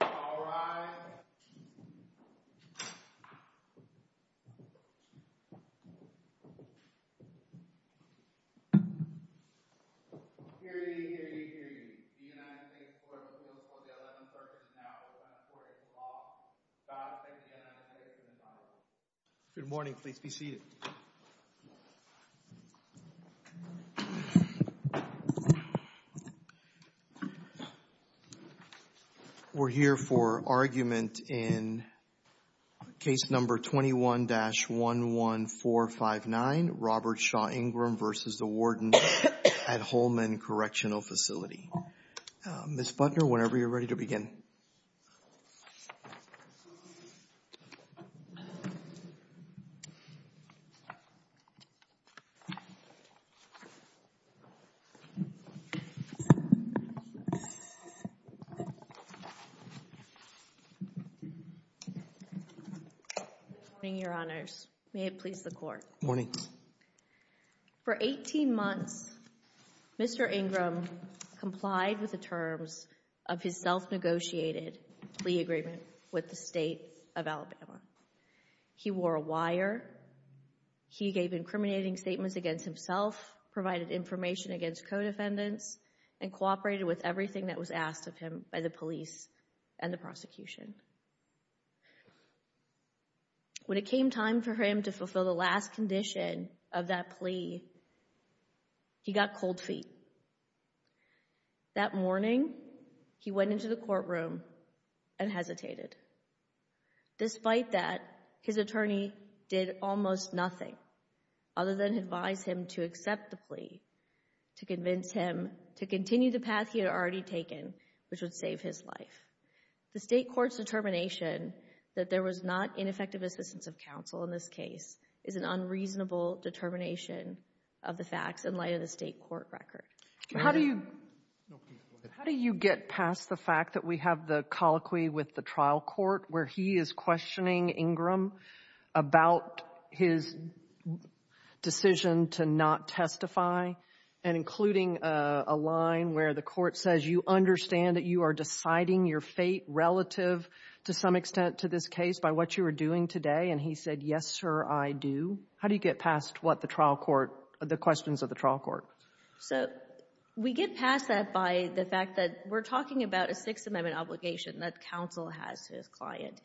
All rise. Hear ye, hear ye, hear ye. The United States Court of Appeals for the Eleventh Circuit is now open for a small, about a second to the end of the hearing. The hearing is now over. Good morning. Please be seated. We're here for argument in case number 21-11459, Robert Shaw Ingram v. Warden at Holman Correctional Facility. Ms. Butner, whenever you're ready to begin. Good morning, Your Honors. May it please the Court. Good morning. For 18 months, Mr. Ingram complied with the terms of his self-negotiated plea agreement with the state of Alabama. He wore a wire. He gave incriminating statements against himself, provided information against co-defendants, and cooperated with everything that was asked of him by the police and the prosecution. When it came time for him to fulfill the last condition of that plea, he got cold feet. That morning, he went into the courtroom and hesitated. Despite that, his attorney did almost nothing other than advise him to accept the plea, to convince him to continue the path he had already taken, which would save his life. The state court's determination that there was not ineffective assistance of counsel in this case is an unreasonable determination of the facts in light of the state court record. How do you get past the fact that we have the colloquy with the trial court, where he is questioning Ingram about his decision to not testify, and including a line where the court says, you understand that you are deciding your fate relative to some extent to this case by what you are doing today, and he said, yes, sir, I do? How do you get past what the trial court, the questions of the trial court? So we get past that by the fact that we're talking about a Sixth Amendment obligation that counsel has to his client.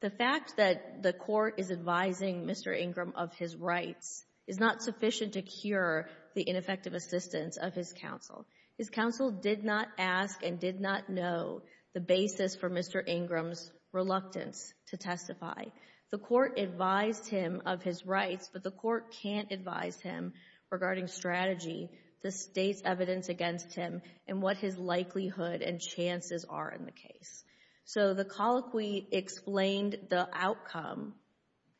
The fact that the court is advising Mr. Ingram of his rights is not sufficient to cure the ineffective assistance of his counsel. His counsel did not ask and did not know the basis for Mr. Ingram's reluctance to testify. The court advised him of his rights, but the court can't advise him regarding strategy, the state's evidence against him, and what his likelihood and chances are in the case. So the colloquy explained the outcome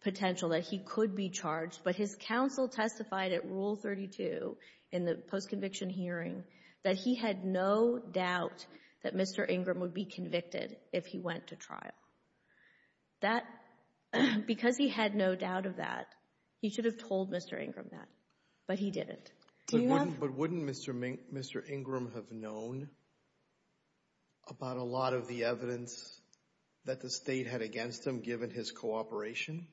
potential that he could be charged, but his counsel testified at Rule 32 in the post-conviction hearing that he had no doubt that Mr. Ingram would be convicted if he went to trial. Because he had no doubt of that, he should have told Mr. Ingram that, but he didn't. But wouldn't Mr. Ingram have known about a lot of the evidence that the state had against him given his cooperation?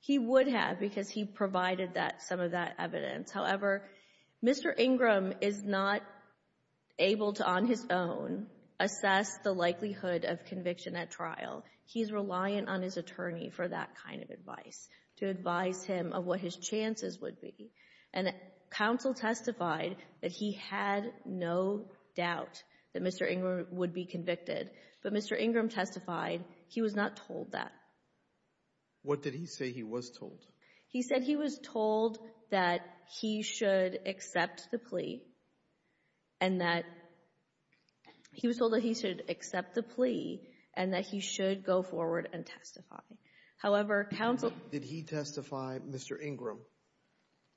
He would have because he provided some of that evidence. However, Mr. Ingram is not able to, on his own, assess the likelihood of conviction at trial. He's reliant on his attorney for that kind of advice, to advise him of what his chances would be. And counsel testified that he had no doubt that Mr. Ingram would be convicted, but Mr. Ingram testified he was not told that. What did he say he was told? He said he was told that he should accept the plea and that he should go forward and testify. However, counsel— Did he testify, Mr. Ingram,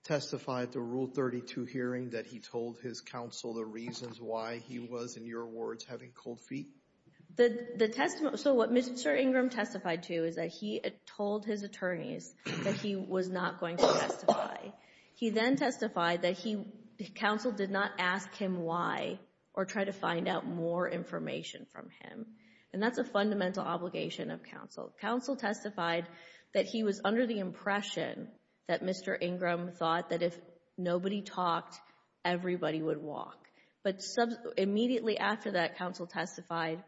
testified at the Rule 32 hearing that he told his counsel the reasons why he was, in your words, having cold feet? The testimony—so what Mr. Ingram testified to is that he told his attorneys that he was not going to testify. He then testified that he—counsel did not ask him why or try to find out more information from him. And that's a fundamental obligation of counsel. Counsel testified that he was under the impression that Mr. Ingram thought that if nobody talked, everybody would walk. But immediately after that, counsel testified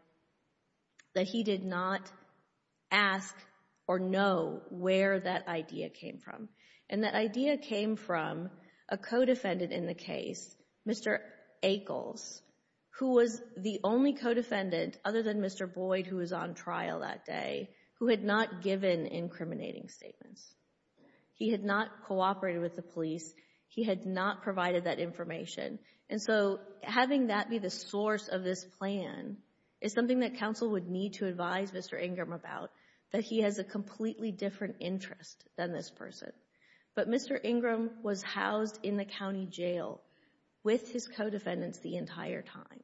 that he did not ask or know where that idea came from. And that idea came from a co-defendant in the case, Mr. Akles, who was the only co-defendant other than Mr. Boyd, who was on trial that day, who had not given incriminating statements. He had not cooperated with the police. He had not provided that information. And so having that be the source of this plan is something that counsel would need to advise Mr. Ingram about, that he has a completely different interest than this person. But Mr. Ingram was housed in the county jail with his co-defendants the entire time.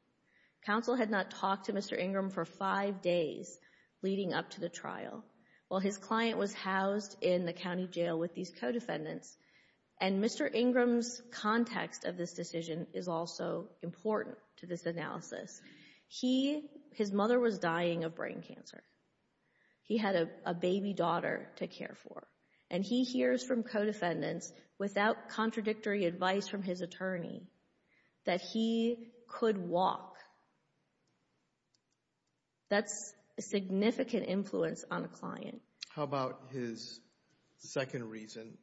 Counsel had not talked to Mr. Ingram for five days leading up to the trial while his client was housed in the county jail with these co-defendants. And Mr. Ingram's context of this decision is also important to this analysis. He, his mother was dying of brain cancer. He had a baby daughter to care for. And he hears from co-defendants without contradictory advice from his attorney that he could walk. That's a significant influence on a client. How about his second reason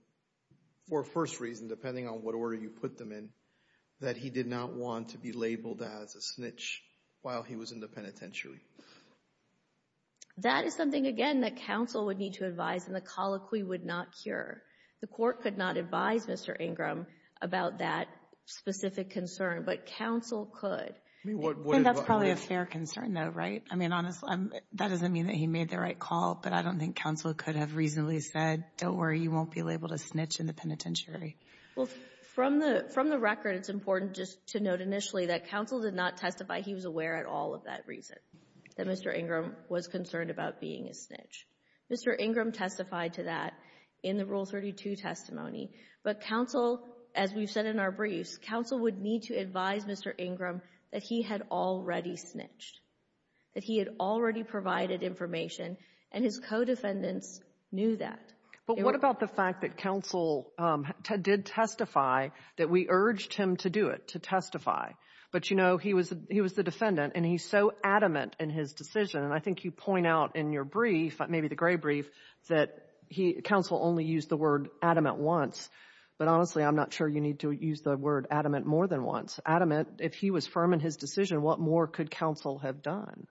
or first reason, depending on what order you put them in, that he did not want to be labeled as a snitch while he was in the penitentiary? That is something, again, that counsel would need to advise and the colloquy would not cure. The Court could not advise Mr. Ingram about that specific concern, but counsel could. And that's probably a fair concern, though, right? I mean, honestly, that doesn't mean that he made the right call, but I don't think counsel could have reasonably said, don't worry, you won't be labeled a snitch in the penitentiary. Well, from the record, it's important just to note initially that counsel did not testify he was aware at all of that reason, that Mr. Ingram was concerned about being a snitch. Mr. Ingram testified to that in the Rule 32 testimony. But counsel, as we've said in our briefs, counsel would need to advise Mr. Ingram that he had already snitched, that he had already provided information, and his co-defendants knew that. But what about the fact that counsel did testify, that we urged him to do it, to testify? But, you know, he was the defendant, and he's so adamant in his decision, and I think you point out in your brief, maybe the gray brief, that counsel only used the word adamant once. But honestly, I'm not sure you need to use the word adamant more than once. Adamant, if he was firm in his decision, what more could counsel have done?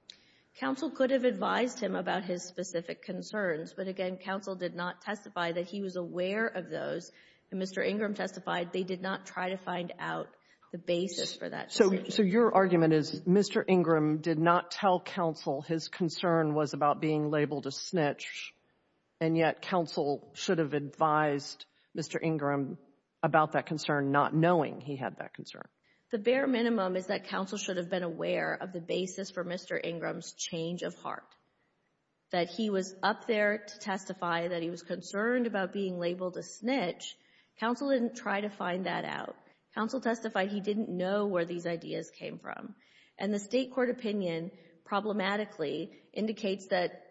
Counsel could have advised him about his specific concerns, but again, counsel did not testify that he was aware of those. Mr. Ingram testified they did not try to find out the basis for that decision. So your argument is Mr. Ingram did not tell counsel his concern was about being labeled a snitch, and yet counsel should have advised Mr. Ingram about that concern not knowing he had that concern. The bare minimum is that counsel should have been aware of the basis for Mr. Ingram's change of heart, that he was up there to testify that he was concerned about being labeled a snitch. Counsel didn't try to find that out. Counsel testified he didn't know where these ideas came from. And the state court opinion, problematically, indicates that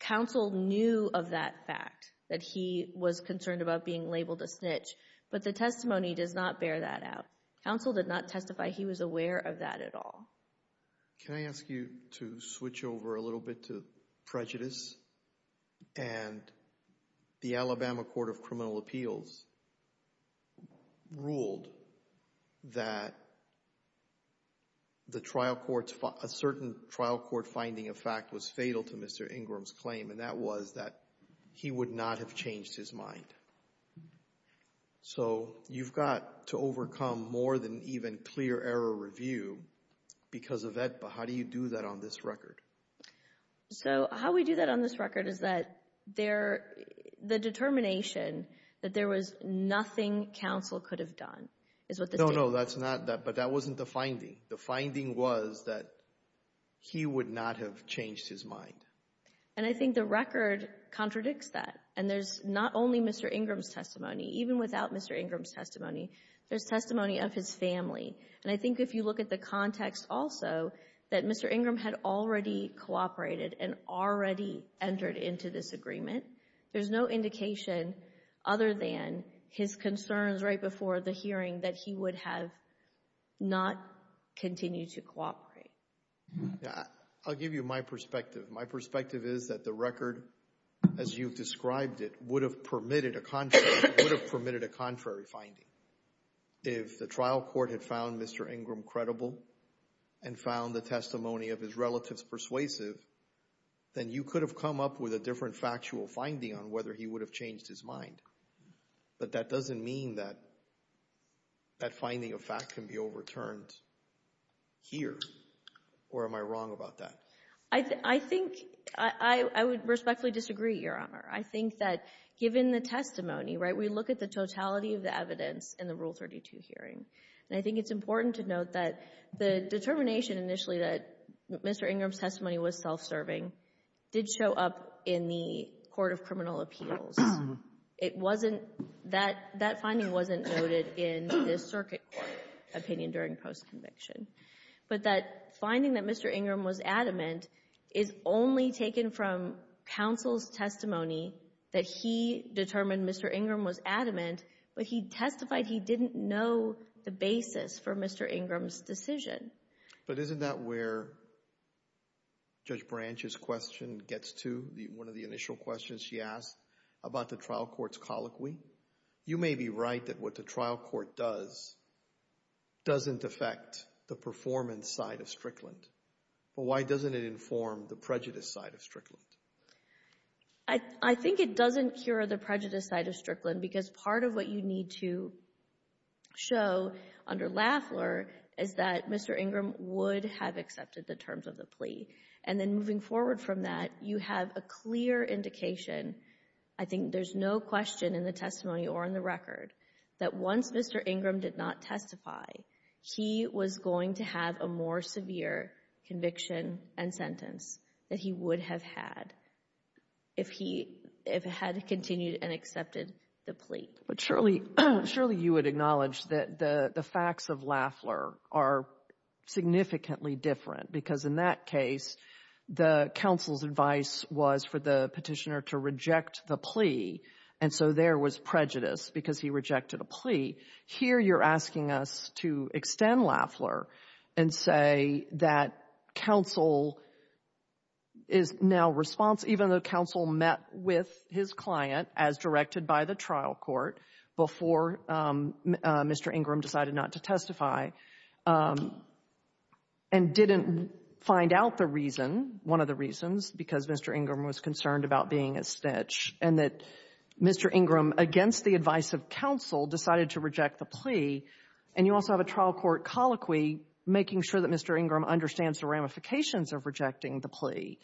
counsel knew of that fact, that he was concerned about being labeled a snitch. But the testimony does not bear that out. Counsel did not testify he was aware of that at all. Can I ask you to switch over a little bit to prejudice? And the Alabama Court of Criminal Appeals ruled that a certain trial court finding of fact was fatal to Mr. Ingram's claim, and that was that he would not have changed his mind. So you've got to overcome more than even clear error review because of that, but how do you do that on this record? So how we do that on this record is that the determination that there was nothing counsel could have done is what the state court said. No, no, that's not that, but that wasn't the finding. The finding was that he would not have changed his mind. And I think the record contradicts that, and there's not only Mr. Ingram's testimony. Even without Mr. Ingram's testimony, there's testimony of his family. And I think if you look at the context also, that Mr. Ingram had already cooperated and already entered into this agreement. There's no indication other than his concerns right before the hearing that he would have not continued to cooperate. I'll give you my perspective. My perspective is that the record, as you've described it, would have permitted a contrary finding If the trial court had found Mr. Ingram credible and found the testimony of his relatives persuasive, then you could have come up with a different factual finding on whether he would have changed his mind. But that doesn't mean that that finding of fact can be overturned here. Or am I wrong about that? I think I would respectfully disagree, Your Honor. I think that given the testimony, right, we look at the totality of the evidence in the Rule 32 hearing. And I think it's important to note that the determination initially that Mr. Ingram's testimony was self-serving did show up in the Court of Criminal Appeals. It wasn't — that finding wasn't noted in the circuit court opinion during post-conviction. But that finding that Mr. Ingram was adamant is only taken from counsel's testimony that he determined Mr. Ingram was adamant, but he testified he didn't know the basis for Mr. Ingram's decision. But isn't that where Judge Branch's question gets to, one of the initial questions she asked about the trial court's colloquy? You may be right that what the trial court does doesn't affect the performance side of Strickland. But why doesn't it inform the prejudice side of Strickland? I think it doesn't cure the prejudice side of Strickland because part of what you need to show under Lafleur is that Mr. Ingram would have accepted the terms of the plea. And then moving forward from that, you have a clear indication, I think there's no question in the testimony or in the record, that once Mr. Ingram did not testify, he was going to have a more severe conviction and sentence that he would have had if he had continued and accepted the plea. But surely you would acknowledge that the facts of Lafleur are significantly different because in that case, the counsel's advice was for the petitioner to reject the plea, and so there was prejudice because he rejected a plea. Here you're asking us to extend Lafleur and say that counsel is now responsible, even though counsel met with his client, as directed by the trial court, before Mr. Ingram decided not to testify and didn't find out the reason, one of the reasons, because Mr. Ingram was concerned about being a snitch, and that Mr. Ingram, against the advice of counsel, decided to reject the plea. And you also have a trial court colloquy making sure that Mr. Ingram understands the ramifications of rejecting the plea.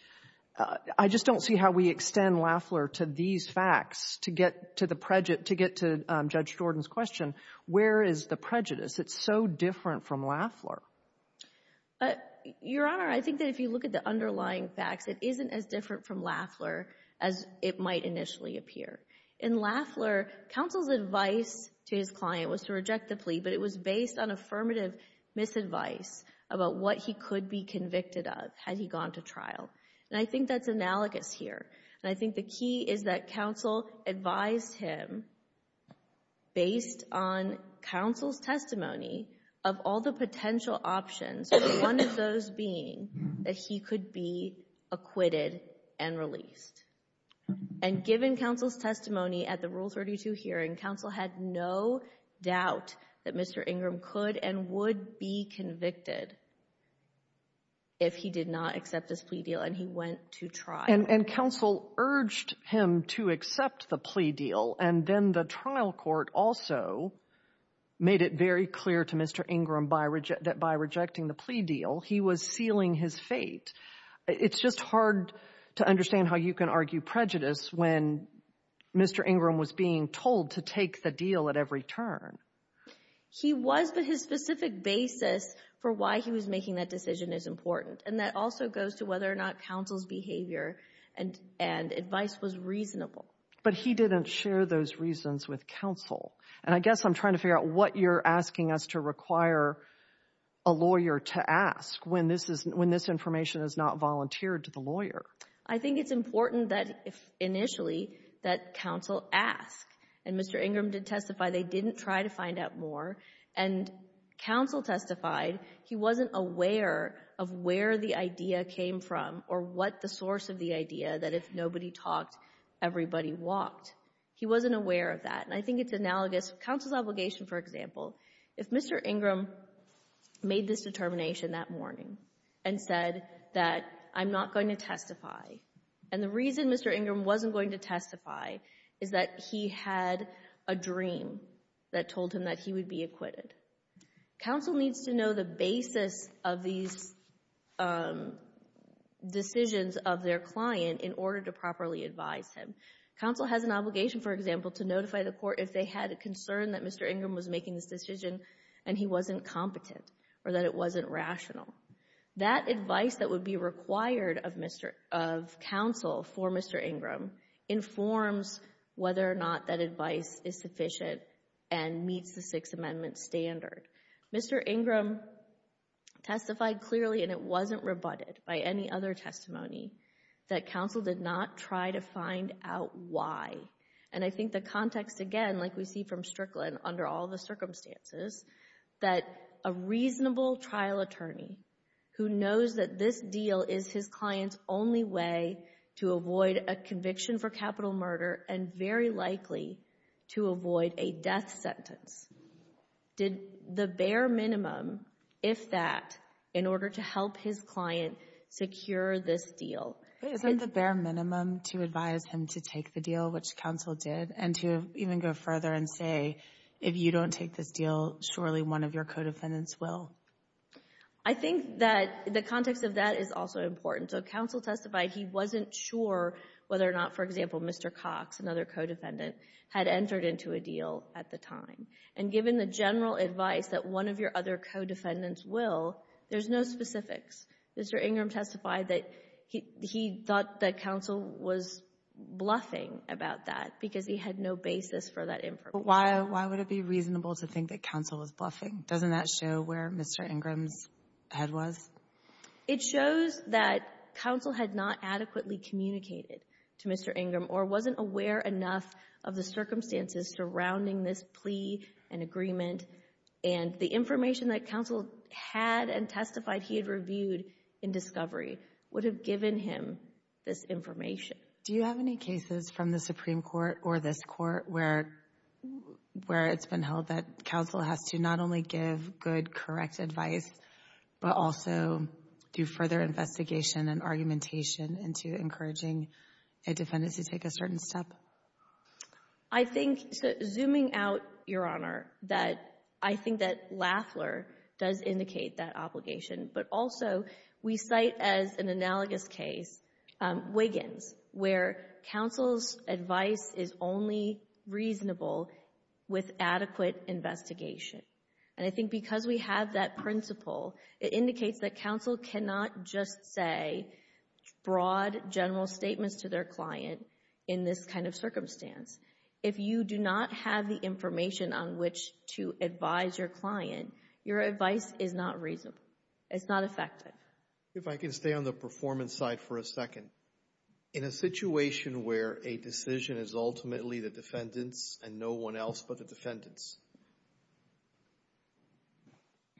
I just don't see how we extend Lafleur to these facts to get to the prejudice, to get to Judge Jordan's question. Where is the prejudice? It's so different from Lafleur. Your Honor, I think that if you look at the underlying facts, it isn't as different from Lafleur as it might initially appear. In Lafleur, counsel's advice to his client was to reject the plea, but it was based on affirmative misadvice about what he could be convicted of had he gone to trial. And I think that's analogous here. And I think the key is that counsel advised him, based on counsel's testimony, of all the potential options, one of those being that he could be acquitted and released. And given counsel's testimony at the Rule 32 hearing, counsel had no doubt that Mr. Ingram could and would be convicted if he did not accept this plea deal, and he went to trial. And counsel urged him to accept the plea deal, and then the trial court also made it very clear to Mr. Ingram that by rejecting the plea deal, he was sealing his fate. It's just hard to understand how you can argue prejudice when Mr. Ingram was being told to take the deal at every turn. He was, but his specific basis for why he was making that decision is important. And that also goes to whether or not counsel's behavior and advice was reasonable. But he didn't share those reasons with counsel. And I guess I'm trying to figure out what you're asking us to require a lawyer to ask when this information is not volunteered to the lawyer. I think it's important that, initially, that counsel ask. And Mr. Ingram did testify they didn't try to find out more. And counsel testified he wasn't aware of where the idea came from or what the source of the idea that if nobody talked, everybody walked. He wasn't aware of that. And I think it's analogous, counsel's obligation, for example, if Mr. Ingram made this determination that morning and said that I'm not going to testify. And the reason Mr. Ingram wasn't going to testify is that he had a dream that told him that he would be acquitted. Counsel needs to know the basis of these decisions of their client in order to properly advise him. Counsel has an obligation, for example, to notify the court if they had a concern that Mr. Ingram was making this decision and he wasn't competent or that it wasn't rational. That advice that would be required of counsel for Mr. Ingram informs whether or not that advice is sufficient and meets the Sixth Amendment standard. Mr. Ingram testified clearly, and it wasn't rebutted by any other testimony, that counsel did not try to find out why. And I think the context, again, like we see from Strickland, under all the circumstances, that a reasonable trial attorney who knows that this deal is his client's only way to avoid a conviction for capital murder and very likely to avoid a death sentence did the bare minimum, if that, in order to help his client secure this deal. Isn't the bare minimum to advise him to take the deal, which counsel did, and to even go further and say, if you don't take this deal, surely one of your co-defendants will? I think that the context of that is also important. So counsel testified he wasn't sure whether or not, for example, Mr. Cox, another co-defendant, had entered into a deal at the time. And given the general advice that one of your other co-defendants will, there's no specifics. Mr. Ingram testified that he thought that counsel was bluffing about that because he had no basis for that information. But why would it be reasonable to think that counsel was bluffing? Doesn't that show where Mr. Ingram's head was? It shows that counsel had not adequately communicated to Mr. Ingram or wasn't aware enough of the circumstances surrounding this plea and agreement. And the information that counsel had and testified he had reviewed in discovery would have given him this information. Do you have any cases from the Supreme Court or this Court where it's been held that counsel has to not only give good, correct advice, but also do further investigation and argumentation into encouraging a defendant to take a certain step? I think, zooming out, Your Honor, that I think that Lafler does indicate that obligation. But also, we cite as an analogous case Wiggins, where counsel's advice is only reasonable with adequate investigation. And I think because we have that principle, it indicates that counsel cannot just say broad, general statements to their client in this kind of circumstance. If you do not have the information on which to advise your client, your advice is not reasonable. It's not effective. If I can stay on the performance side for a second. In a situation where a decision is ultimately the defendant's and no one else but the defendant's,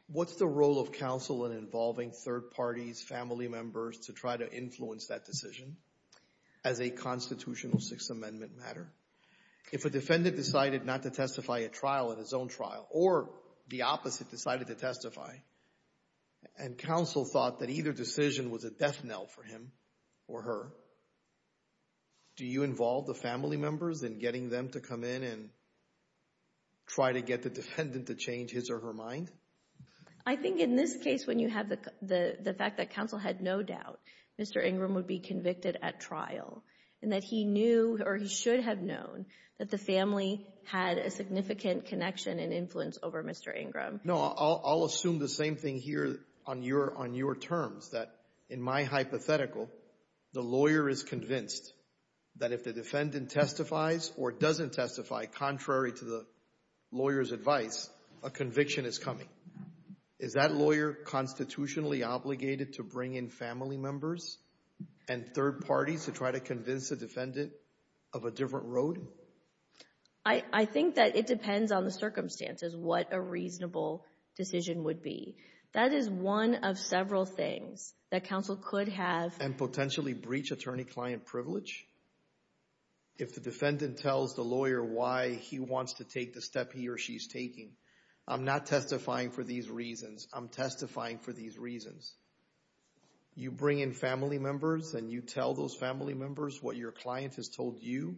what's the role of counsel in involving third parties, family members, to try to influence that decision as a constitutional Sixth Amendment matter? If a defendant decided not to testify at trial, at his own trial, or the opposite decided to testify, and counsel thought that either decision was a death knell for him or her, do you involve the family members in getting them to come in and try to get the defendant to change his or her mind? I think in this case, when you have the fact that counsel had no doubt Mr. Ingram would be convicted at trial, and that he knew, or he should have known, that the family had a significant connection and influence over Mr. Ingram. No, I'll assume the same thing here on your terms, that in my hypothetical, the lawyer is convinced that if the defendant testifies or doesn't testify, contrary to the lawyer's advice, a conviction is coming. Is that lawyer constitutionally obligated to bring in family members and third parties to try to convince the defendant of a different road? I think that it depends on the circumstances, what a reasonable decision would be. That is one of several things that counsel could have. And potentially breach attorney-client privilege? If the defendant tells the lawyer why he wants to take the step he or she's taking, I'm not testifying for these reasons, I'm testifying for these reasons. You bring in family members and you tell those family members what your client has told you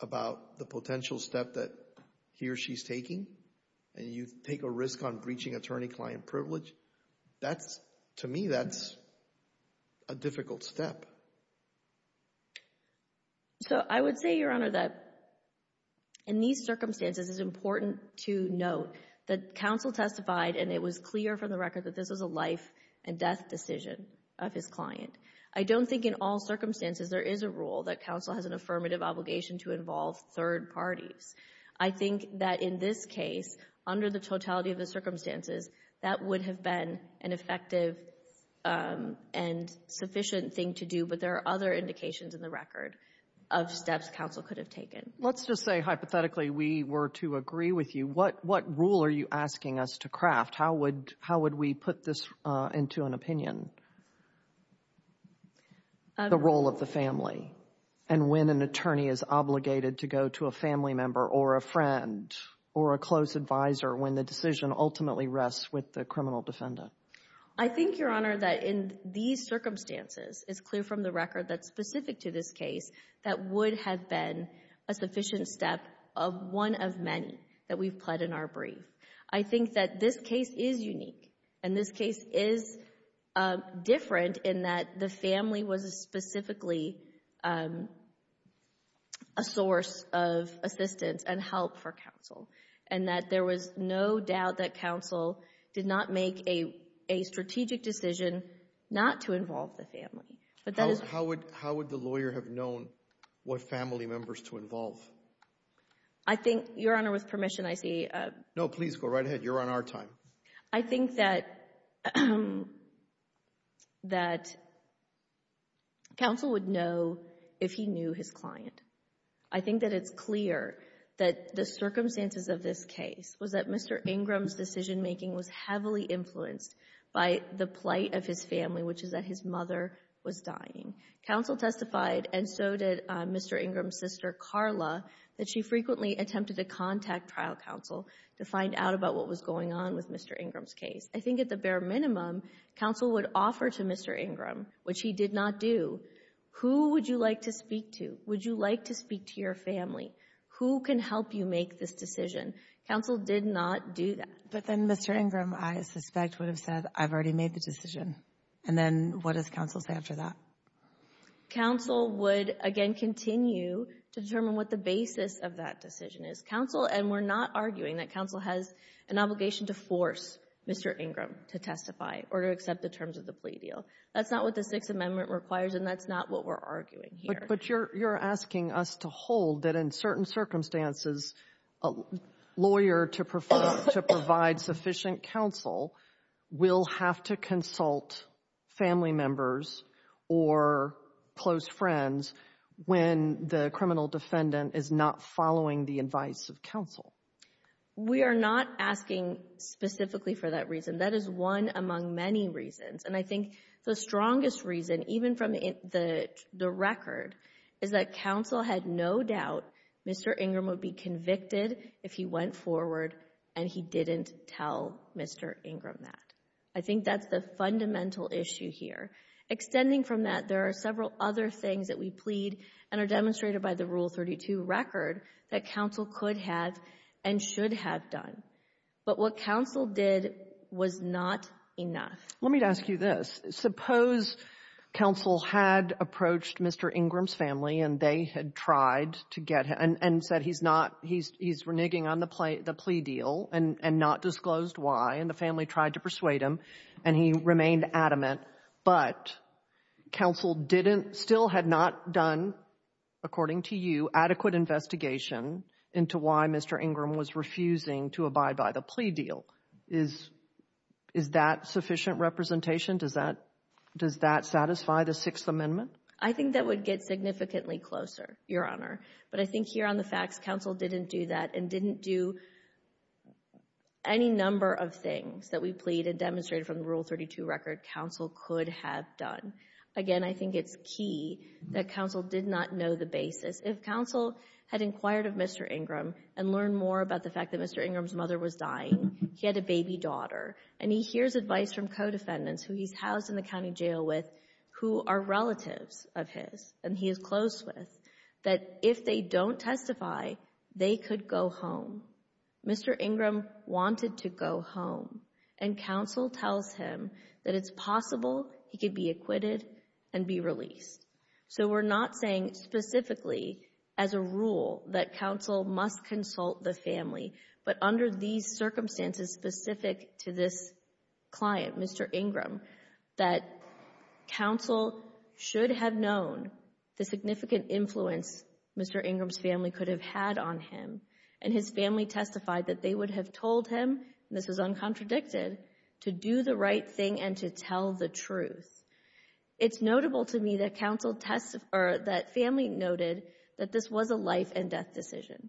about the potential step that he or she's taking, and you take a risk on breaching attorney-client privilege? That's, to me, that's a difficult step. So I would say, Your Honor, that in these circumstances, it's important to note that counsel testified, and it was clear from the record that this was a life-and-death decision of his client. I don't think in all circumstances there is a rule that counsel has an affirmative obligation to involve third parties. I think that in this case, under the totality of the circumstances, that would have been an effective and sufficient thing to do, but there are other indications in the record of steps counsel could have taken. Let's just say, hypothetically, we were to agree with you. What rule are you asking us to craft? How would we put this into an opinion, the role of the family, and when an attorney is obligated to go to a family member or a friend or a close advisor when the decision ultimately rests with the criminal defendant? I think, Your Honor, that in these circumstances, it's clear from the record that's specific to this case that would have been a sufficient step of one of many that we've pled in our brief. I think that this case is unique, and this case is different in that the family was specifically a source of assistance and help for counsel, and that there was no doubt that counsel did not make a strategic decision not to involve the family. How would the lawyer have known what family members to involve? I think, Your Honor, with permission, I see. No, please go right ahead. You're on our time. I think that counsel would know if he knew his client. I think that it's clear that the circumstances of this case was that Mr. Ingram's decision-making was heavily influenced by the plight of his family, which is that his mother was dying. Counsel testified, and so did Mr. Ingram's sister, Carla, that she frequently attempted to contact trial counsel to find out about what was going on with Mr. Ingram's case. I think at the bare minimum, counsel would offer to Mr. Ingram, which he did not do, who would you like to speak to? Would you like to speak to your family? Who can help you make this decision? Counsel did not do that. But then Mr. Ingram, I suspect, would have said, I've already made the decision. And then what does counsel say after that? Counsel would, again, continue to determine what the basis of that decision is. Counsel, and we're not arguing that counsel has an obligation to force Mr. Ingram to testify or to accept the terms of the plea deal. That's not what the Sixth Amendment requires, and that's not what we're arguing here. But you're asking us to hold that in certain circumstances, a lawyer to provide sufficient counsel will have to consult family members or close friends when the criminal defendant is not following the advice of counsel. We are not asking specifically for that reason. That is one among many reasons. And I think the strongest reason, even from the record, is that counsel had no doubt Mr. Ingram would be convicted if he went forward and he didn't tell Mr. Ingram that. I think that's the fundamental issue here. Extending from that, there are several other things that we plead and are demonstrated by the Rule 32 record that counsel could have and should have done. But what counsel did was not enough. Let me ask you this. Suppose counsel had approached Mr. Ingram's family and they had tried to get him and said he's not, he's reneging on the plea deal and not disclosed why, and the family tried to persuade him and he remained adamant, but counsel didn't, still had not done, according to you, adequate investigation into why Mr. Ingram was refusing to abide by the plea deal. Is that sufficient representation? Does that satisfy the Sixth Amendment? I think that would get significantly closer, Your Honor. But I think here on the facts, counsel didn't do that and didn't do any number of things that we plead and demonstrated from the Rule 32 record counsel could have done. Again, I think it's key that counsel did not know the basis. If counsel had inquired of Mr. Ingram and learned more about the fact that Mr. Ingram's mother was dying, he had a baby daughter, and he hears advice from co-defendants who he's housed in the county jail with, who are relatives of his, and he is close with, that if they don't testify, they could go home. Mr. Ingram wanted to go home, and counsel tells him that it's possible he could be acquitted and be released. So we're not saying specifically as a rule that counsel must consult the family, but under these circumstances specific to this client, Mr. Ingram, that counsel should have known the significant influence Mr. Ingram's family could have had on him, and his family testified that they would have told him, and this was uncontradicted, to do the right thing and to tell the truth. It's notable to me that family noted that this was a life and death decision.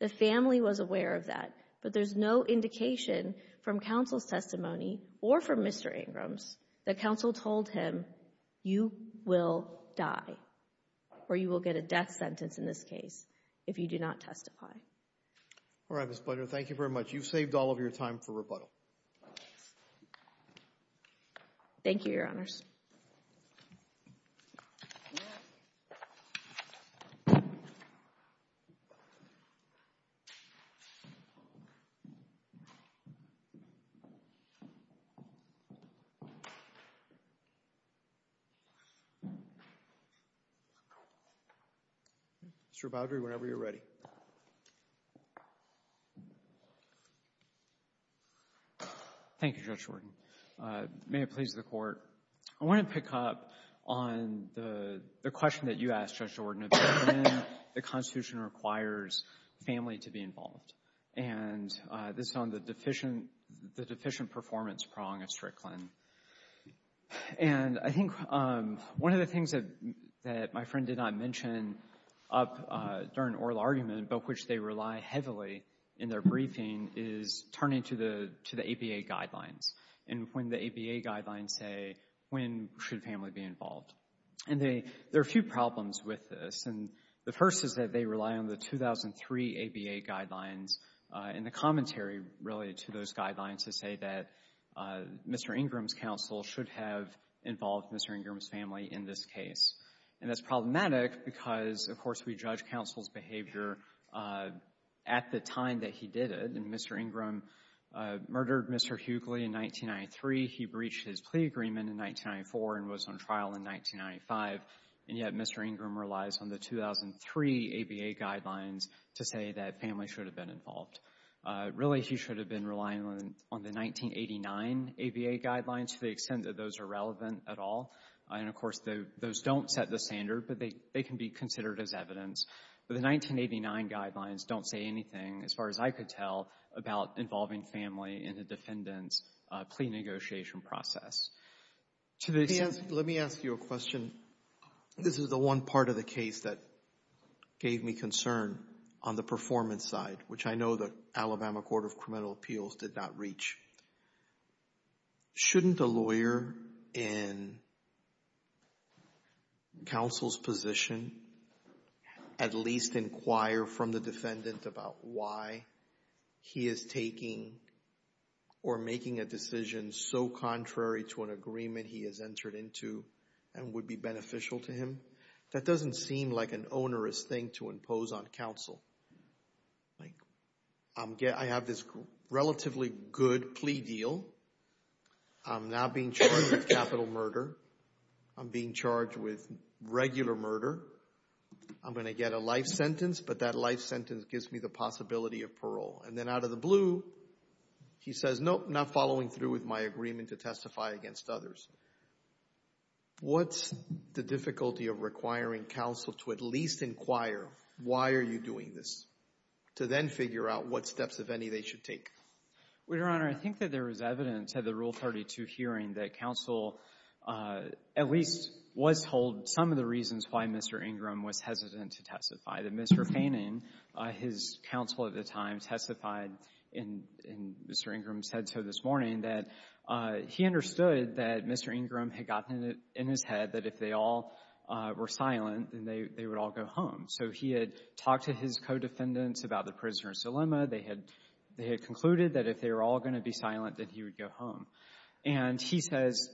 The family was aware of that, but there's no indication from counsel's testimony or from Mr. Ingram's that counsel told him, you will die, or you will get a death sentence in this case if you do not testify. All right, Ms. Budger, thank you very much. You've saved all of your time for rebuttal. Thank you, Your Honors. Mr. Budger, whenever you're ready. Thank you, Judge Jordan. May it please the Court. I want to pick up on the question that you asked, Judge Jordan, about when the Constitution requires family to be involved. And this is on the deficient performance prong of Strickland. And I think one of the things that my friend did not mention up during oral argument but which they rely heavily in their briefing is turning to the ABA guidelines and when the ABA guidelines say when should family be involved. And there are a few problems with this. And the first is that they rely on the 2003 ABA guidelines and the commentary related to those guidelines to say that Mr. Ingram's counsel should have involved Mr. Ingram's family in this case. And that's problematic because, of course, we judge counsel's behavior at the time that he did it. And Mr. Ingram murdered Mr. Hughley in 1993. He breached his plea agreement in 1994 and was on trial in 1995. And yet Mr. Ingram relies on the 2003 ABA guidelines to say that family should have been involved. Really, he should have been relying on the 1989 ABA guidelines to the extent that those are relevant at all. And, of course, those don't set the standard, but they can be considered as evidence. But the 1989 guidelines don't say anything, as far as I could tell, about involving family in a defendant's plea negotiation process. Let me ask you a question. This is the one part of the case that gave me concern on the performance side, which I know the Alabama Court of Criminal Appeals did not reach. Shouldn't a lawyer in counsel's position at least inquire from the defendant about why he is taking or making a decision so contrary to an agreement he has entered into and would be beneficial to him? That doesn't seem like an onerous thing to impose on counsel. I have this relatively good plea deal. I'm not being charged with capital murder. I'm being charged with regular murder. I'm going to get a life sentence, but that life sentence gives me the possibility of parole. And then out of the blue, he says, nope, not following through with my agreement to testify against others. What's the difficulty of requiring counsel to at least inquire, why are you doing this, to then figure out what steps, if any, they should take? Well, Your Honor, I think that there was evidence at the Rule 32 hearing that counsel at least was told some of the reasons why Mr. Ingram was hesitant to testify, that Mr. Payning, his counsel at the time, testified, and Mr. Ingram said so this morning, that he understood that Mr. Ingram had gotten it in his head that if they all were silent, then they would all go home. So he had talked to his co-defendants about the prisoner's dilemma. They had concluded that if they were all going to be silent, that he would go home. And he says,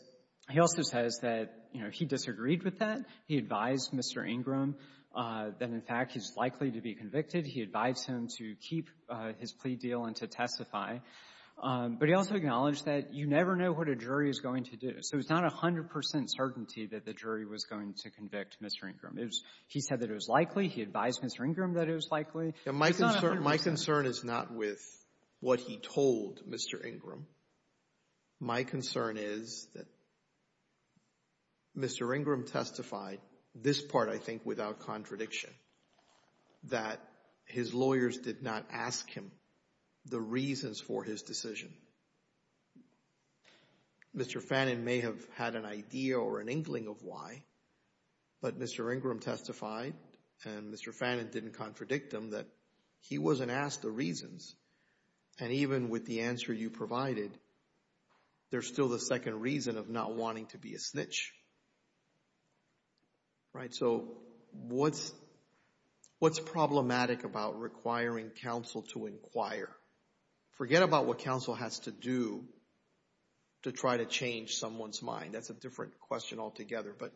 he also says that, you know, he disagreed with that. He advised Mr. Ingram that, in fact, he's likely to be convicted. He advised him to keep his plea deal and to testify. But he also acknowledged that you never know what a jury is going to do. So it's not 100 percent certainty that the jury was going to convict Mr. Ingram. He said that it was likely. He advised Mr. Ingram that it was likely. It's not 100 percent. My concern is not with what he told Mr. Ingram. My concern is that Mr. Ingram testified, this part, I think, without contradiction, that his lawyers did not ask him the reasons for his decision. Mr. Fannin may have had an idea or an inkling of why, but Mr. Ingram testified, and Mr. Fannin didn't contradict him, that he wasn't asked the reasons. And even with the answer you provided, there's still the second reason of not wanting to be a snitch. Right? So what's problematic about requiring counsel to inquire? Forget about what counsel has to do to try to change someone's mind. That's a different question altogether. But,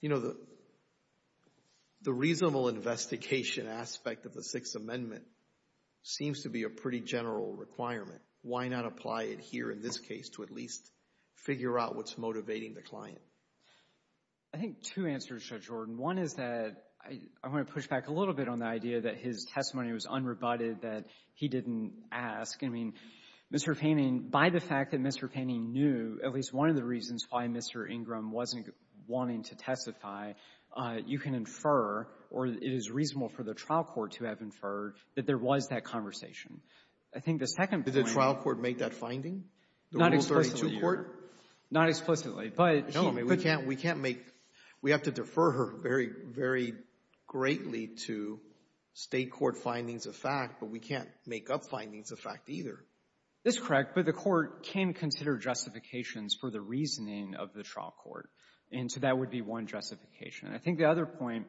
you know, the reasonable investigation aspect of the Sixth Amendment seems to be a pretty general requirement. Why not apply it here in this case to at least figure out what's motivating the client? I think two answers, Judge Jordan. One is that I want to push back a little bit on the idea that his testimony was unrebutted, that he didn't ask. I mean, Mr. Fannin, by the fact that Mr. Fannin knew at least one of the reasons why Mr. Ingram wasn't wanting to testify, you can infer, or it is reasonable for the trial court to have inferred, that there was that conversation. I think the second point — Did the trial court make that finding? Not explicitly, Your Honor. The Rule 32 court? Not explicitly, but — No, but we can't make — we have to defer her very, very greatly to State court findings of fact, but we can't make up findings of fact either. That's correct. But the court can consider justifications for the reasoning of the trial court. And so that would be one justification. I think the other point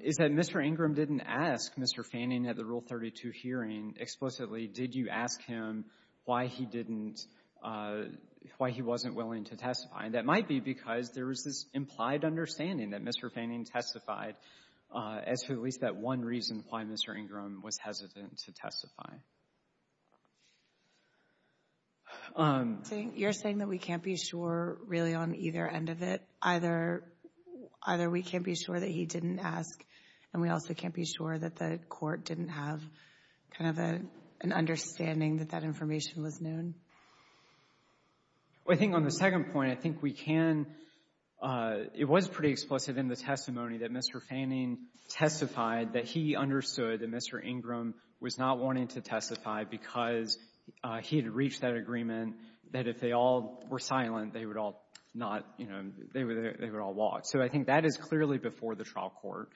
is that Mr. Ingram didn't ask Mr. Fannin at the Rule 32 hearing explicitly, did you ask him why he didn't — why he wasn't willing to testify. And that might be because there was this implied understanding that Mr. Fannin testified as to at least that one reason why Mr. Ingram was hesitant to testify. You're saying that we can't be sure really on either end of it? Either we can't be sure that he didn't ask, and we also can't be sure that the court didn't have kind of an understanding that that information was known? Well, I think on the second point, I think we can — it was pretty explicit in the testimony that Mr. Fannin testified that he understood that Mr. Ingram was not wanting to testify because he had reached that agreement that if they all were silent, they would all not — you know, they would all walk. So I think that is clearly before the trial court.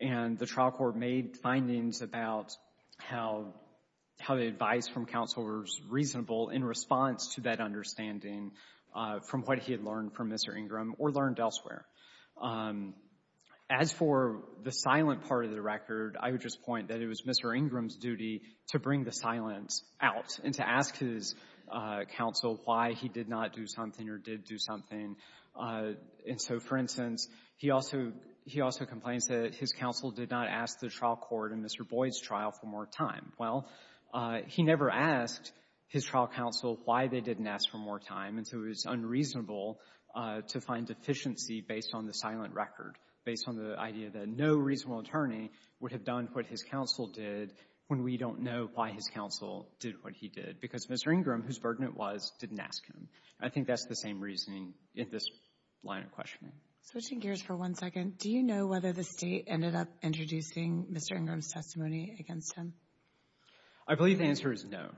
And the trial court made findings about how the advice from counsel was reasonable in response to that understanding from what he had learned from Mr. Ingram or learned elsewhere. As for the silent part of the record, I would just point that it was Mr. Ingram's decision to bring the silence out and to ask his counsel why he did not do something or did do something. And so, for instance, he also — he also complains that his counsel did not ask the trial court in Mr. Boyd's trial for more time. Well, he never asked his trial counsel why they didn't ask for more time, and so it was unreasonable to find deficiency based on the silent record, based on the idea that no reasonable attorney would have done what his counsel did when we don't know why his counsel did what he did. Because Mr. Ingram, whose burden it was, didn't ask him. I think that's the same reasoning in this line of questioning. Switching gears for one second, do you know whether the State ended up introducing Mr. Ingram's testimony against him? I believe the answer is no.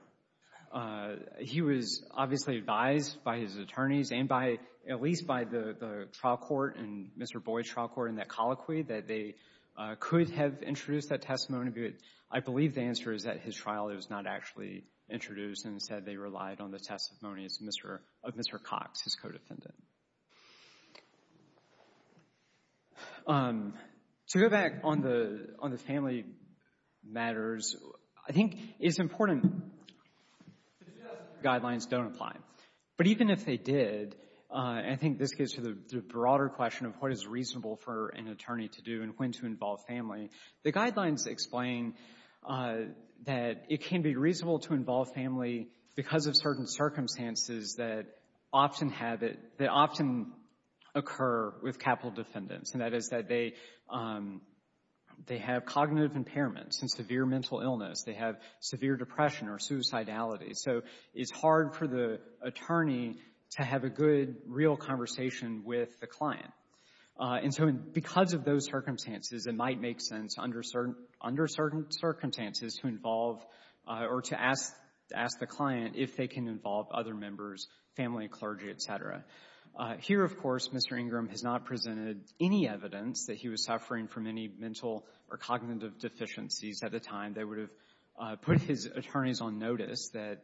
He was obviously advised by his attorneys and by — at least by the trial court and Mr. Boyd's trial court in that colloquy that they could have introduced that testimony, but I believe the answer is at his trial it was not actually introduced and said they relied on the testimonies of Mr. Cox, his co-defendant. To go back on the family matters, I think it's important to suggest that the guidelines don't apply. But even if they did, I think this gets to the broader question of what is reasonable for an attorney to do and when to involve family. The guidelines explain that it can be reasonable to involve family because of certain circumstances that often have it — that often occur with capital defendants, and that is that they have cognitive impairments and severe mental illness. They have severe depression or suicidality. So it's hard for the attorney to have a good, real conversation with the client. And so because of those circumstances, it might make sense under certain circumstances to involve or to ask the client if they can involve other members, family, clergy, et cetera. Here, of course, Mr. Ingram has not presented any evidence that he was suffering from any mental or cognitive deficiencies at the time. They would have put his attorneys on notice that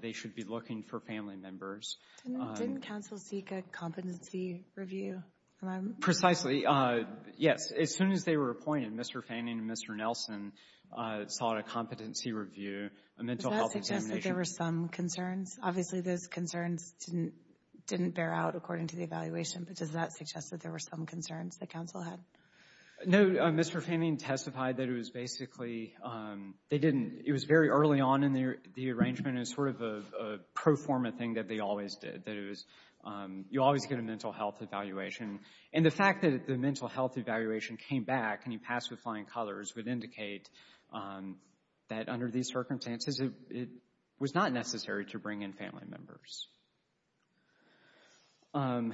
they should be looking for family members. Didn't counsel seek a competency review? Precisely, yes. As soon as they were appointed, Mr. Fanning and Mr. Nelson sought a competency review, a mental health examination. Does that suggest that there were some concerns? Obviously, those concerns didn't bear out according to the evaluation. But does that suggest that there were some concerns that counsel had? No, Mr. Fanning testified that it was basically—they didn't—it was very early on in the arrangement. It was sort of a pro forma thing that they always did. That it was—you always get a mental health evaluation. And the fact that the mental health evaluation came back and you passed with flying colors would indicate that under these circumstances, it was not necessary to bring in family members. I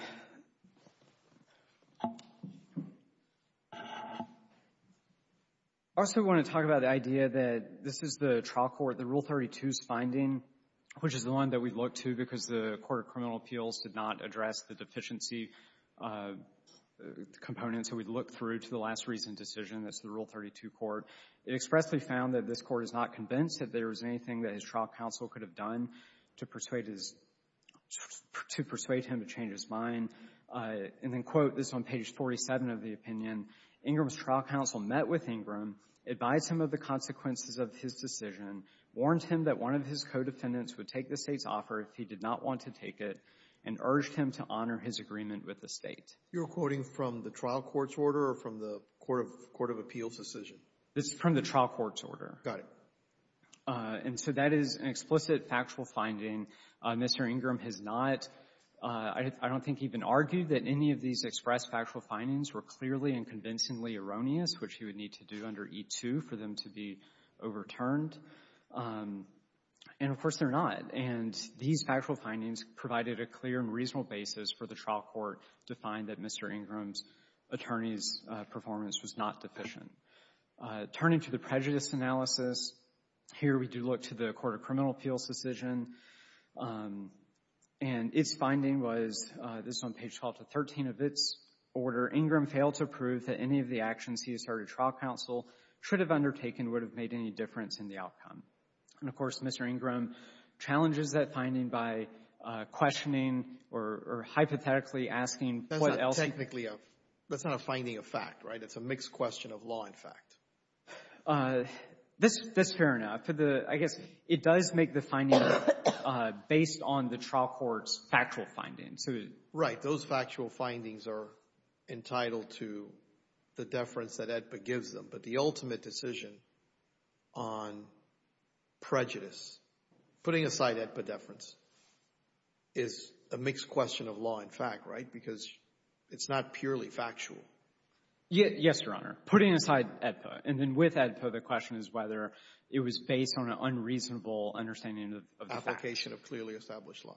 also want to talk about the idea that this is the trial court, the Rule 32's finding, which is the one that we look to because the Court of Criminal Appeals did not address the deficiency components that we looked through to the last recent decision. That's the Rule 32 court. It expressly found that this court is not convinced that there was anything that his trial counsel could have done to persuade his—to persuade him to change his mind. And then quote this on page 47 of the opinion. Ingram's trial counsel met with Ingram, advised him of the consequences of his decision, warned him that one of his co-defendants would take the State's offer if he did not want to take it, and urged him to honor his agreement with the State. You're quoting from the trial court's order or from the Court of Appeals' decision? This is from the trial court's order. Got it. And so that is an explicit factual finding. Mr. Ingram has not, I don't think, even argued that any of these expressed factual findings were clearly and convincingly erroneous, which he would need to do under E-2 for them to be overturned. And, of course, they're not. And these factual findings provided a clear and reasonable basis for the trial court to find that Mr. Ingram's attorney's performance was not deficient. Turning to the prejudice analysis, here we do look to the Court of Criminal Appeals' decision, and its finding was, this is on page 12 to 13 of its order, Ingram failed to prove that any of the actions he asserted trial counsel should have undertaken would have made any difference in the outcome. And, of course, Mr. Ingram challenges that finding by questioning or hypothetically asking what else he could have done. That's not technically a — that's not a finding of fact, right? It's a mixed question of law and fact. That's fair enough. For the — I guess it does make the finding based on the trial court's factual findings. Right. Those factual findings are entitled to the deference that AEDPA gives them. But the ultimate decision on prejudice, putting aside AEDPA deference, is a mixed question of law and fact, right? Because it's not purely factual. Yes, Your Honor. Putting aside AEDPA. And then with AEDPA, the question is whether it was based on an unreasonable understanding of the facts. Application of clearly established law,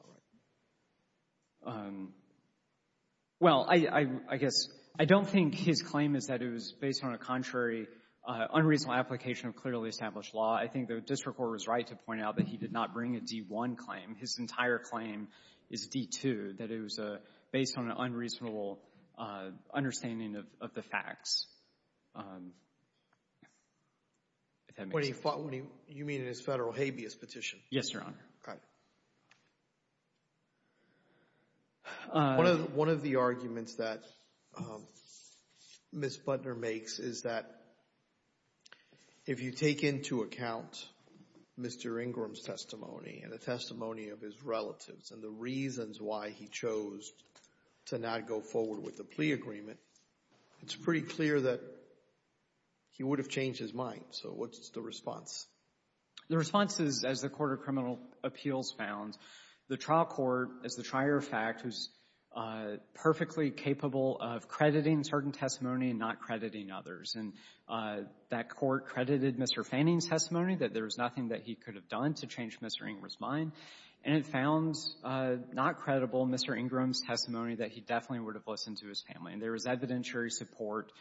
right? Well, I guess I don't think his claim is that it was based on a contrary unreasonable application of clearly established law. I think the district court was right to point out that he did not bring a D-1 claim. His entire claim is D-2, that it was based on an unreasonable understanding of the facts. If that makes sense. When he — you mean in his Federal habeas petition? Yes, Your Honor. Got it. One of the arguments that Ms. Butner makes is that if you take into account Mr. Ingram's testimony and the testimony of his relatives and the reasons why he chose to not go forward with the plea agreement, it's pretty clear that he would have changed his mind. So what's the response? The response is, as the Court of Criminal Appeals found, the trial court is the trier of fact who's perfectly capable of crediting certain testimony and not crediting others. And that court credited Mr. Fanning's testimony that there was nothing that he could have done to change Mr. Ingram's mind. And it found not credible Mr. Ingram's testimony that he definitely would have listened to his family. And there was evidentiary support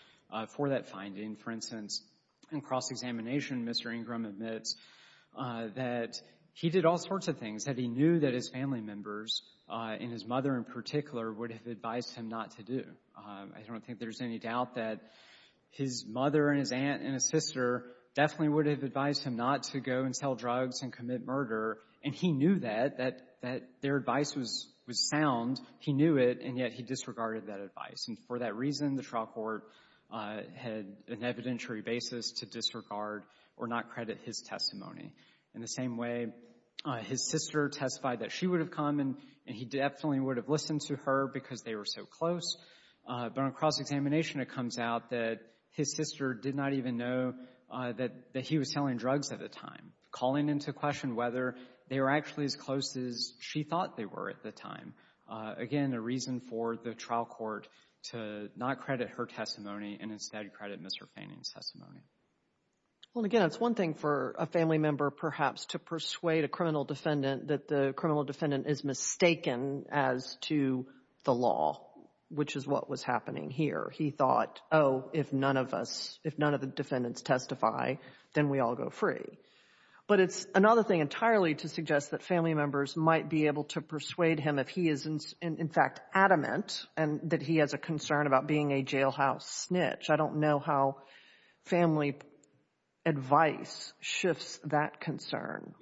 for that finding. For instance, in cross-examination, Mr. Ingram admits that he did all sorts of things, that he knew that his family members, and his mother in particular, would have advised him not to do. I don't think there's any doubt that his mother and his aunt and his sister definitely would have advised him not to go and sell drugs and commit murder. And he knew that, that their advice was sound. He knew it, and yet he disregarded that advice. And for that reason, the trial court had an evidentiary basis to disregard or not credit his testimony. In the same way, his sister testified that she would have come and he definitely would have listened to her because they were so close. But on cross-examination, it comes out that his sister did not even know that he was selling drugs at the time, calling into question whether they were actually as close as she thought they were at the time. Again, a reason for the trial court to not credit her testimony and instead credit Mr. Fanning's testimony. Well, again, it's one thing for a family member, perhaps, to persuade a criminal defendant is mistaken as to the law, which is what was happening here. He thought, oh, if none of us, if none of the defendants testify, then we all go free. But it's another thing entirely to suggest that family members might be able to persuade him if he is, in fact, adamant and that he has a concern about being a jailhouse snitch. I don't know how family advice shifts that concern.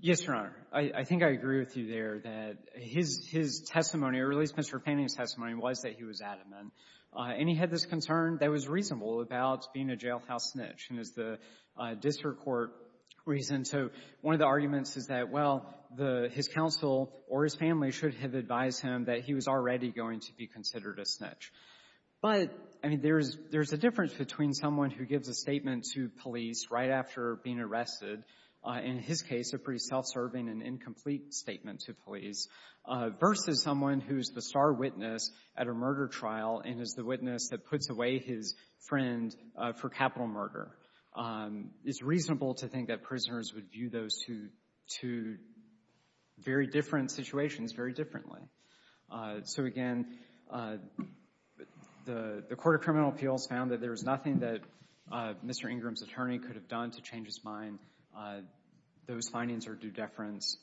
Yes, Your Honor. I think I agree with you there that his testimony, or at least Mr. Fanning's testimony, was that he was adamant. And he had this concern that was reasonable about being a jailhouse snitch. And it's the district court reason. So one of the arguments is that, well, his counsel or his family should have advised him that he was already going to be considered a snitch. But, I mean, there's a difference between someone who gives a statement to police right after being arrested, in his case a pretty self-serving and incomplete statement to police, versus someone who's the star witness at a murder trial and is the witness that puts away his friend for capital murder. It's reasonable to think that prisoners would view those two very different situations very differently. So, again, the Court of Criminal Appeals found that there was nothing that Mr. Fanning could have done to change his mind. Those findings are due deference.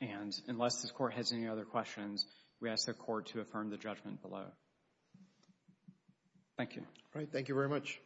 And unless the court has any other questions, we ask the court to affirm the judgment below. Thank you. All right. Thank you very much.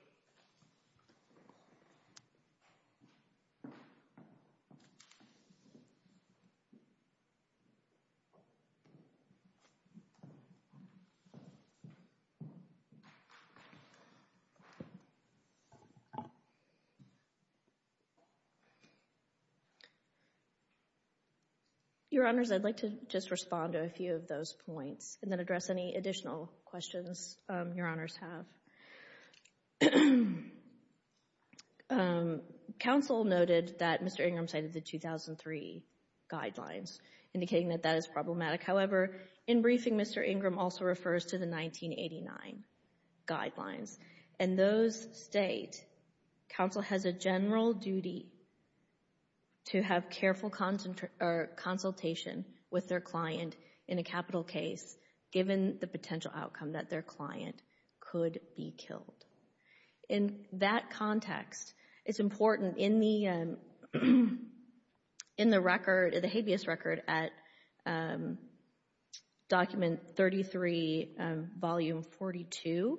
Your Honors, I'd like to just respond to a few of those points and then address any additional questions Your Honors have. Counsel noted that Mr. Ingram cited the 2003 guidelines, indicating that that is problematic. However, in briefing, Mr. Ingram also refers to the 1989 guidelines. In those states, counsel has a general duty to have careful consultation with their client in a capital case, given the potential outcome that their client could be killed. In that context, it's important in the record, the habeas record at Document 33, Volume 42,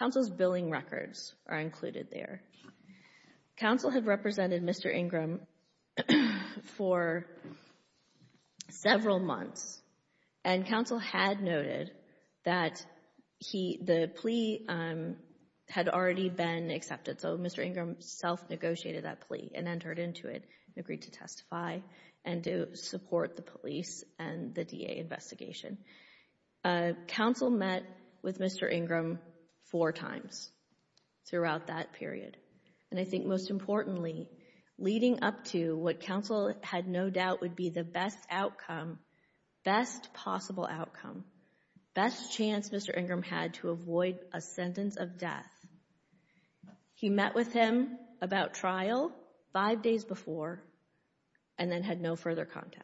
counsel's billing records are included there. Counsel had represented Mr. Ingram for several months, and counsel had noted that the plea had already been accepted. So, Mr. Ingram self-negotiated that plea and entered into it and agreed to testify and to support the police and the DA investigation. Counsel met with Mr. Ingram four times throughout that period. And I think most importantly, leading up to what counsel had no doubt would be the best outcome, best possible outcome, best chance Mr. Ingram had to avoid a sentence of death. He met with him about trial five days before and then had no further contact.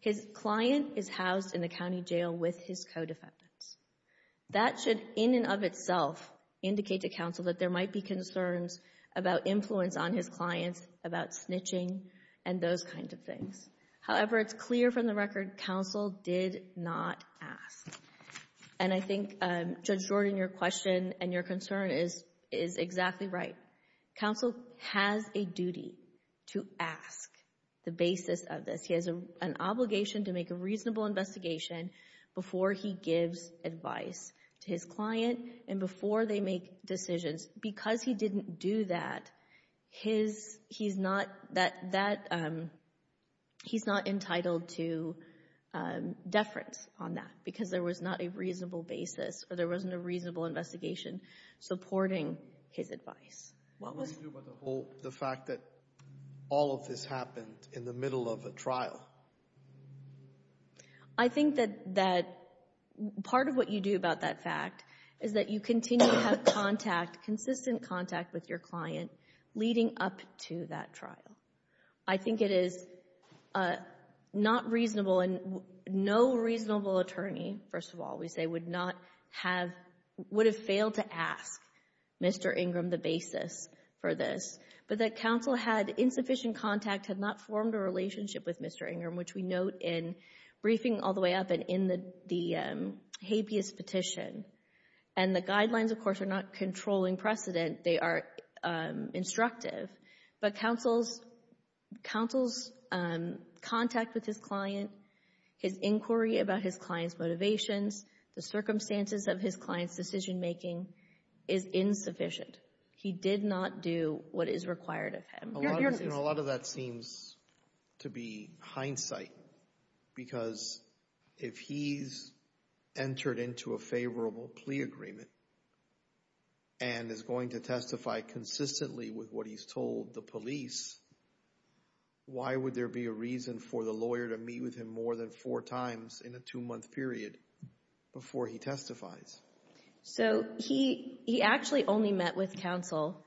His client is housed in the county jail with his co-defendants. That should, in and of itself, indicate to counsel that there might be concerns about However, it's clear from the record, counsel did not ask. And I think, Judge Jordan, your question and your concern is exactly right. Counsel has a duty to ask the basis of this. He has an obligation to make a reasonable investigation before he gives advice to his client and before they make decisions. Because he didn't do that, he's not entitled to deference on that because there was not a reasonable basis or there wasn't a reasonable investigation supporting his advice. What do you do about the fact that all of this happened in the middle of a trial? I think that part of what you do about that fact is that you continue to have contact, consistent contact with your client leading up to that trial. I think it is not reasonable and no reasonable attorney, first of all, we say would not have, would have failed to ask Mr. Ingram the basis for this. But that counsel had insufficient contact, had not formed a relationship with Mr. Ingram, which we note in briefing all the way up and in the habeas petition. And the guidelines, of course, are not controlling precedent. They are instructive. But counsel's contact with his client, his inquiry about his client's motivations, the circumstances of his client's decision-making is insufficient. He did not do what is required of him. A lot of that seems to be hindsight because if he's entered into a favorable plea agreement and is going to testify consistently with what he's told the police, why would there be a reason for the lawyer to meet with him more than four times in a two-month period before he testifies? So he actually only met with counsel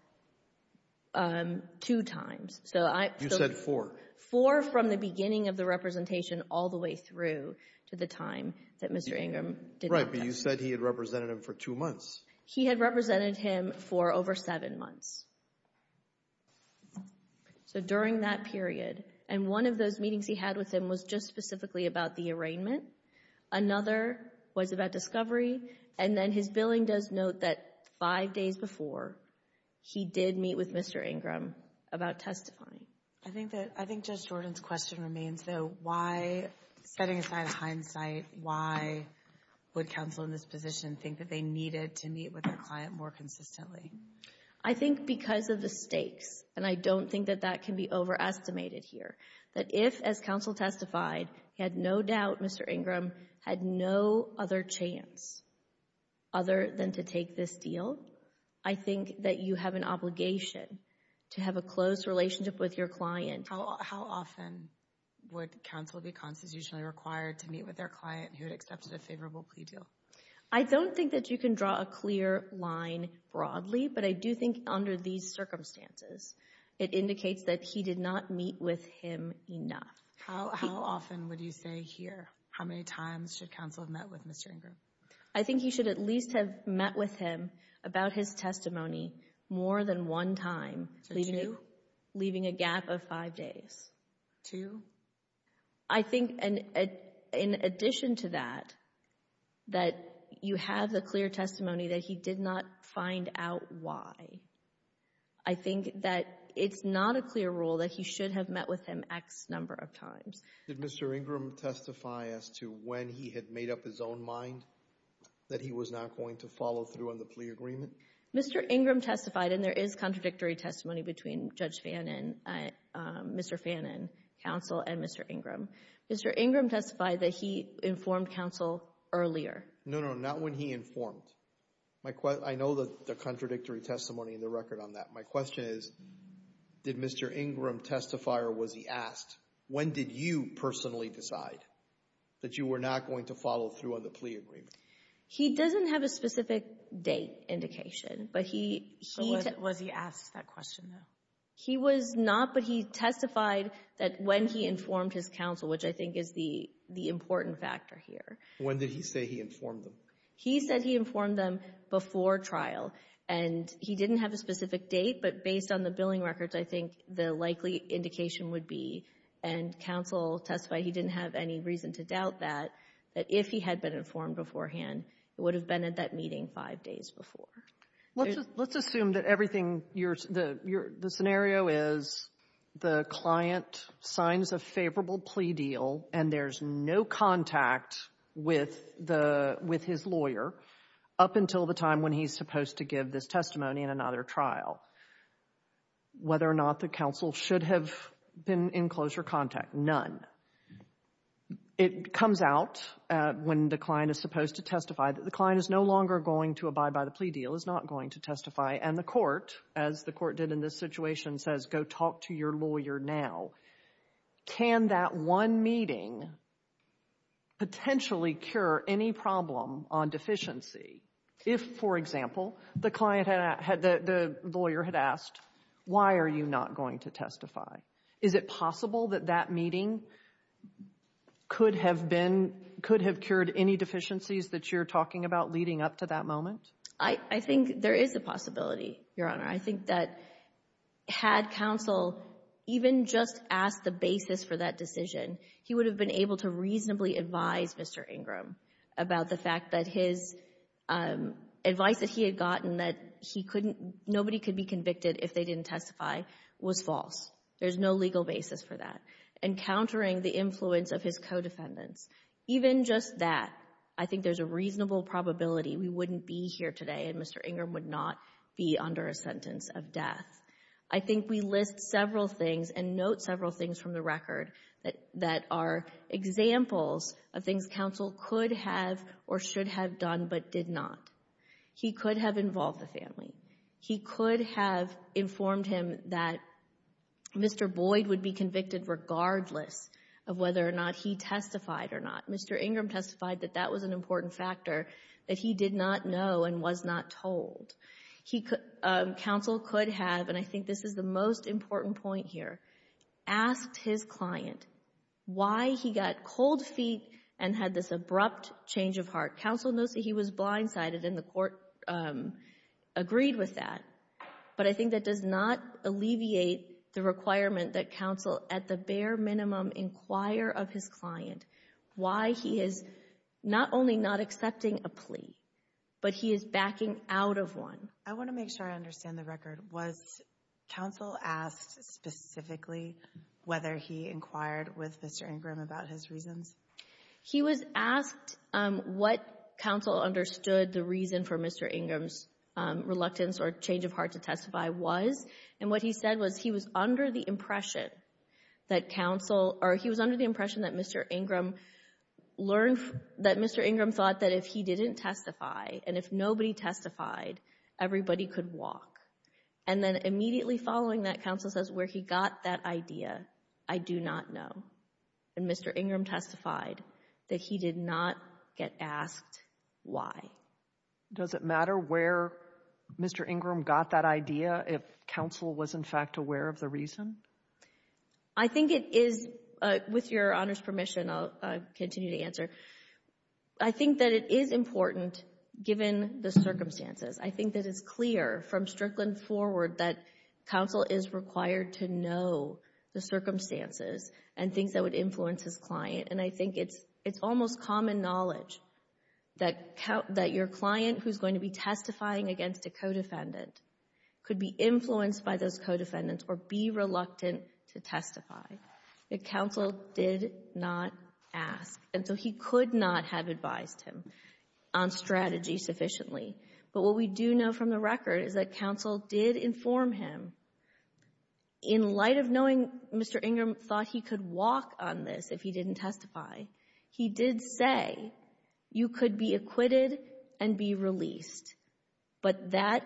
two times. You said four. Four from the beginning of the representation all the way through to the time that Mr. Ingram did not testify. Right, but you said he had represented him for two months. He had represented him for over seven months. So during that period, and one of those meetings he had with him was just specifically about the arraignment. Another was about discovery. And then his billing does note that five days before, he did meet with Mr. Ingram about testifying. I think Judge Jordan's question remains, though, why, setting aside hindsight, why would counsel in this position think that they needed to meet with their client more consistently? I think because of the stakes, and I don't think that that can be overestimated here, that if, as counsel testified, he had no doubt Mr. Ingram had no other chance other than to take this deal, I think that you have an obligation to have a close relationship with your client. How often would counsel be constitutionally required to meet with their client who had accepted a favorable plea deal? I don't think that you can draw a clear line broadly, but I do think under these circumstances, it indicates that he did not meet with him enough. How often would you say here? How many times should counsel have met with Mr. Ingram? I think he should at least have met with him about his testimony more than one time, leaving a gap of five days. Two? I think in addition to that, that you have the clear testimony that he did not find out why. I think that it's not a clear rule that he should have met with him X number of times. Did Mr. Ingram testify as to when he had made up his own mind that he was not going to follow through on the plea agreement? Mr. Ingram testified, and there is contradictory testimony between Judge Fannin, Mr. Fannin, counsel, and Mr. Ingram. Mr. Ingram testified that he informed counsel earlier. No, no, not when he informed. I know the contradictory testimony in the record on that. My question is, did Mr. Ingram testify or was he asked? When did you personally decide that you were not going to follow through on the plea agreement? He doesn't have a specific date indication, but he— Was he asked that question, though? He was not, but he testified that when he informed his counsel, which I think is the important factor here. When did he say he informed them? He said he informed them before trial, and he didn't have a specific date, but based on the billing records, I think the likely indication would be, and counsel testified he didn't have any reason to doubt that, that if he had been informed beforehand, it would have been at that meeting five days before. Let's assume that everything you're — the scenario is the client signs a favorable plea deal, and there's no contact with the — with his lawyer up until the time when he's supposed to give this testimony in another trial. Whether or not the counsel should have been in closer contact, none. It comes out when the client is supposed to testify that the client is no longer going to abide by the plea deal, is not going to testify, and the court, as the court did in this situation, says, go talk to your lawyer now. Can that one meeting potentially cure any problem on deficiency if, for example, the client had — the lawyer had asked, why are you not going to testify? Is it possible that that meeting could have been — could have cured any deficiencies that you're talking about leading up to that moment? I think there is a possibility, Your Honor. I think that had counsel even just asked the basis for that decision, he would have been able to reasonably advise Mr. Ingram about the fact that his advice that he had gotten that he couldn't — nobody could be convicted if they didn't testify was false. There's no legal basis for that. And countering the influence of his co-defendants, even just that, I think there's a reasonable probability we wouldn't be here today and Mr. Ingram would not be under a sentence of death. I think we list several things and note several things from the record that are examples of things counsel could have or should have done but did not. He could have involved the family. He could have informed him that Mr. Boyd would be convicted regardless of whether or not he testified or not. Mr. Ingram testified that that was an important factor, that he did not know and was not told. He — counsel could have, and I think this is the most important point here, asked his client why he got cold feet and had this abrupt change of heart. Counsel knows that he was blindsided and the court agreed with that. But I think that does not alleviate the requirement that counsel at the bare minimum inquire of his client why he is not only not accepting a plea but he is even out of one. I want to make sure I understand the record. Was counsel asked specifically whether he inquired with Mr. Ingram about his reasons? He was asked what counsel understood the reason for Mr. Ingram's reluctance or change of heart to testify was. And what he said was he was under the impression that counsel — or he was under the impression that Mr. Ingram learned — that Mr. Ingram thought that if he didn't testify and if nobody testified, everybody could walk. And then immediately following that, counsel says where he got that idea, I do not know. And Mr. Ingram testified that he did not get asked why. Does it matter where Mr. Ingram got that idea if counsel was, in fact, aware of the reason? I think it is — with Your Honor's permission, I'll continue to answer. I think that it is important given the circumstances. I think that it's clear from Strickland forward that counsel is required to know the circumstances and things that would influence his client. And I think it's almost common knowledge that your client who's going to be testifying against a co-defendant could be influenced by those co-defendants or be reluctant to testify. But counsel did not ask. And so he could not have advised him on strategy sufficiently. But what we do know from the record is that counsel did inform him. In light of knowing Mr. Ingram thought he could walk on this if he didn't testify, he did say you could be acquitted and be released. But that,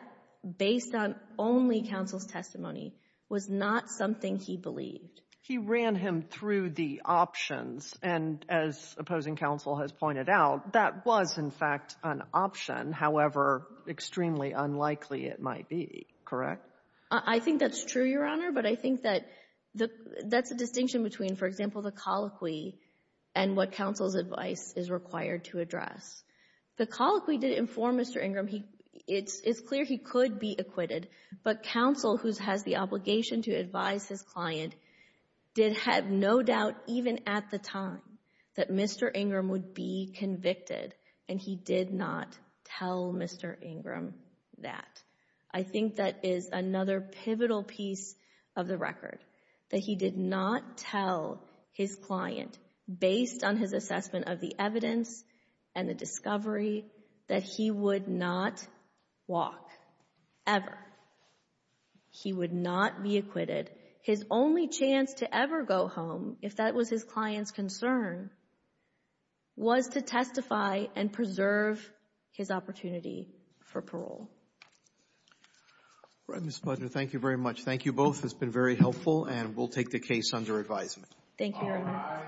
based on only counsel's testimony, was not something he believed. He ran him through the options. And as opposing counsel has pointed out, that was, in fact, an option, however extremely unlikely it might be, correct? I think that's true, Your Honor. But I think that that's a distinction between, for example, the colloquy and what counsel's advice is required to address. The colloquy did inform Mr. Ingram. It's clear he could be acquitted. But counsel, who has the obligation to advise his client, did have no doubt, even at the time, that Mr. Ingram would be convicted. And he did not tell Mr. Ingram that. I think that is another pivotal piece of the record, that he did not tell his client, based on his assessment of the evidence and the discovery, that he would not walk, ever. He would not be acquitted. His only chance to ever go home, if that was his client's concern, was to testify and preserve his opportunity for parole. Roberts. Thank you very much. Thank you both. It's been very helpful. And we'll take the case under advisement. Thank you, Your Honor. Bye-bye.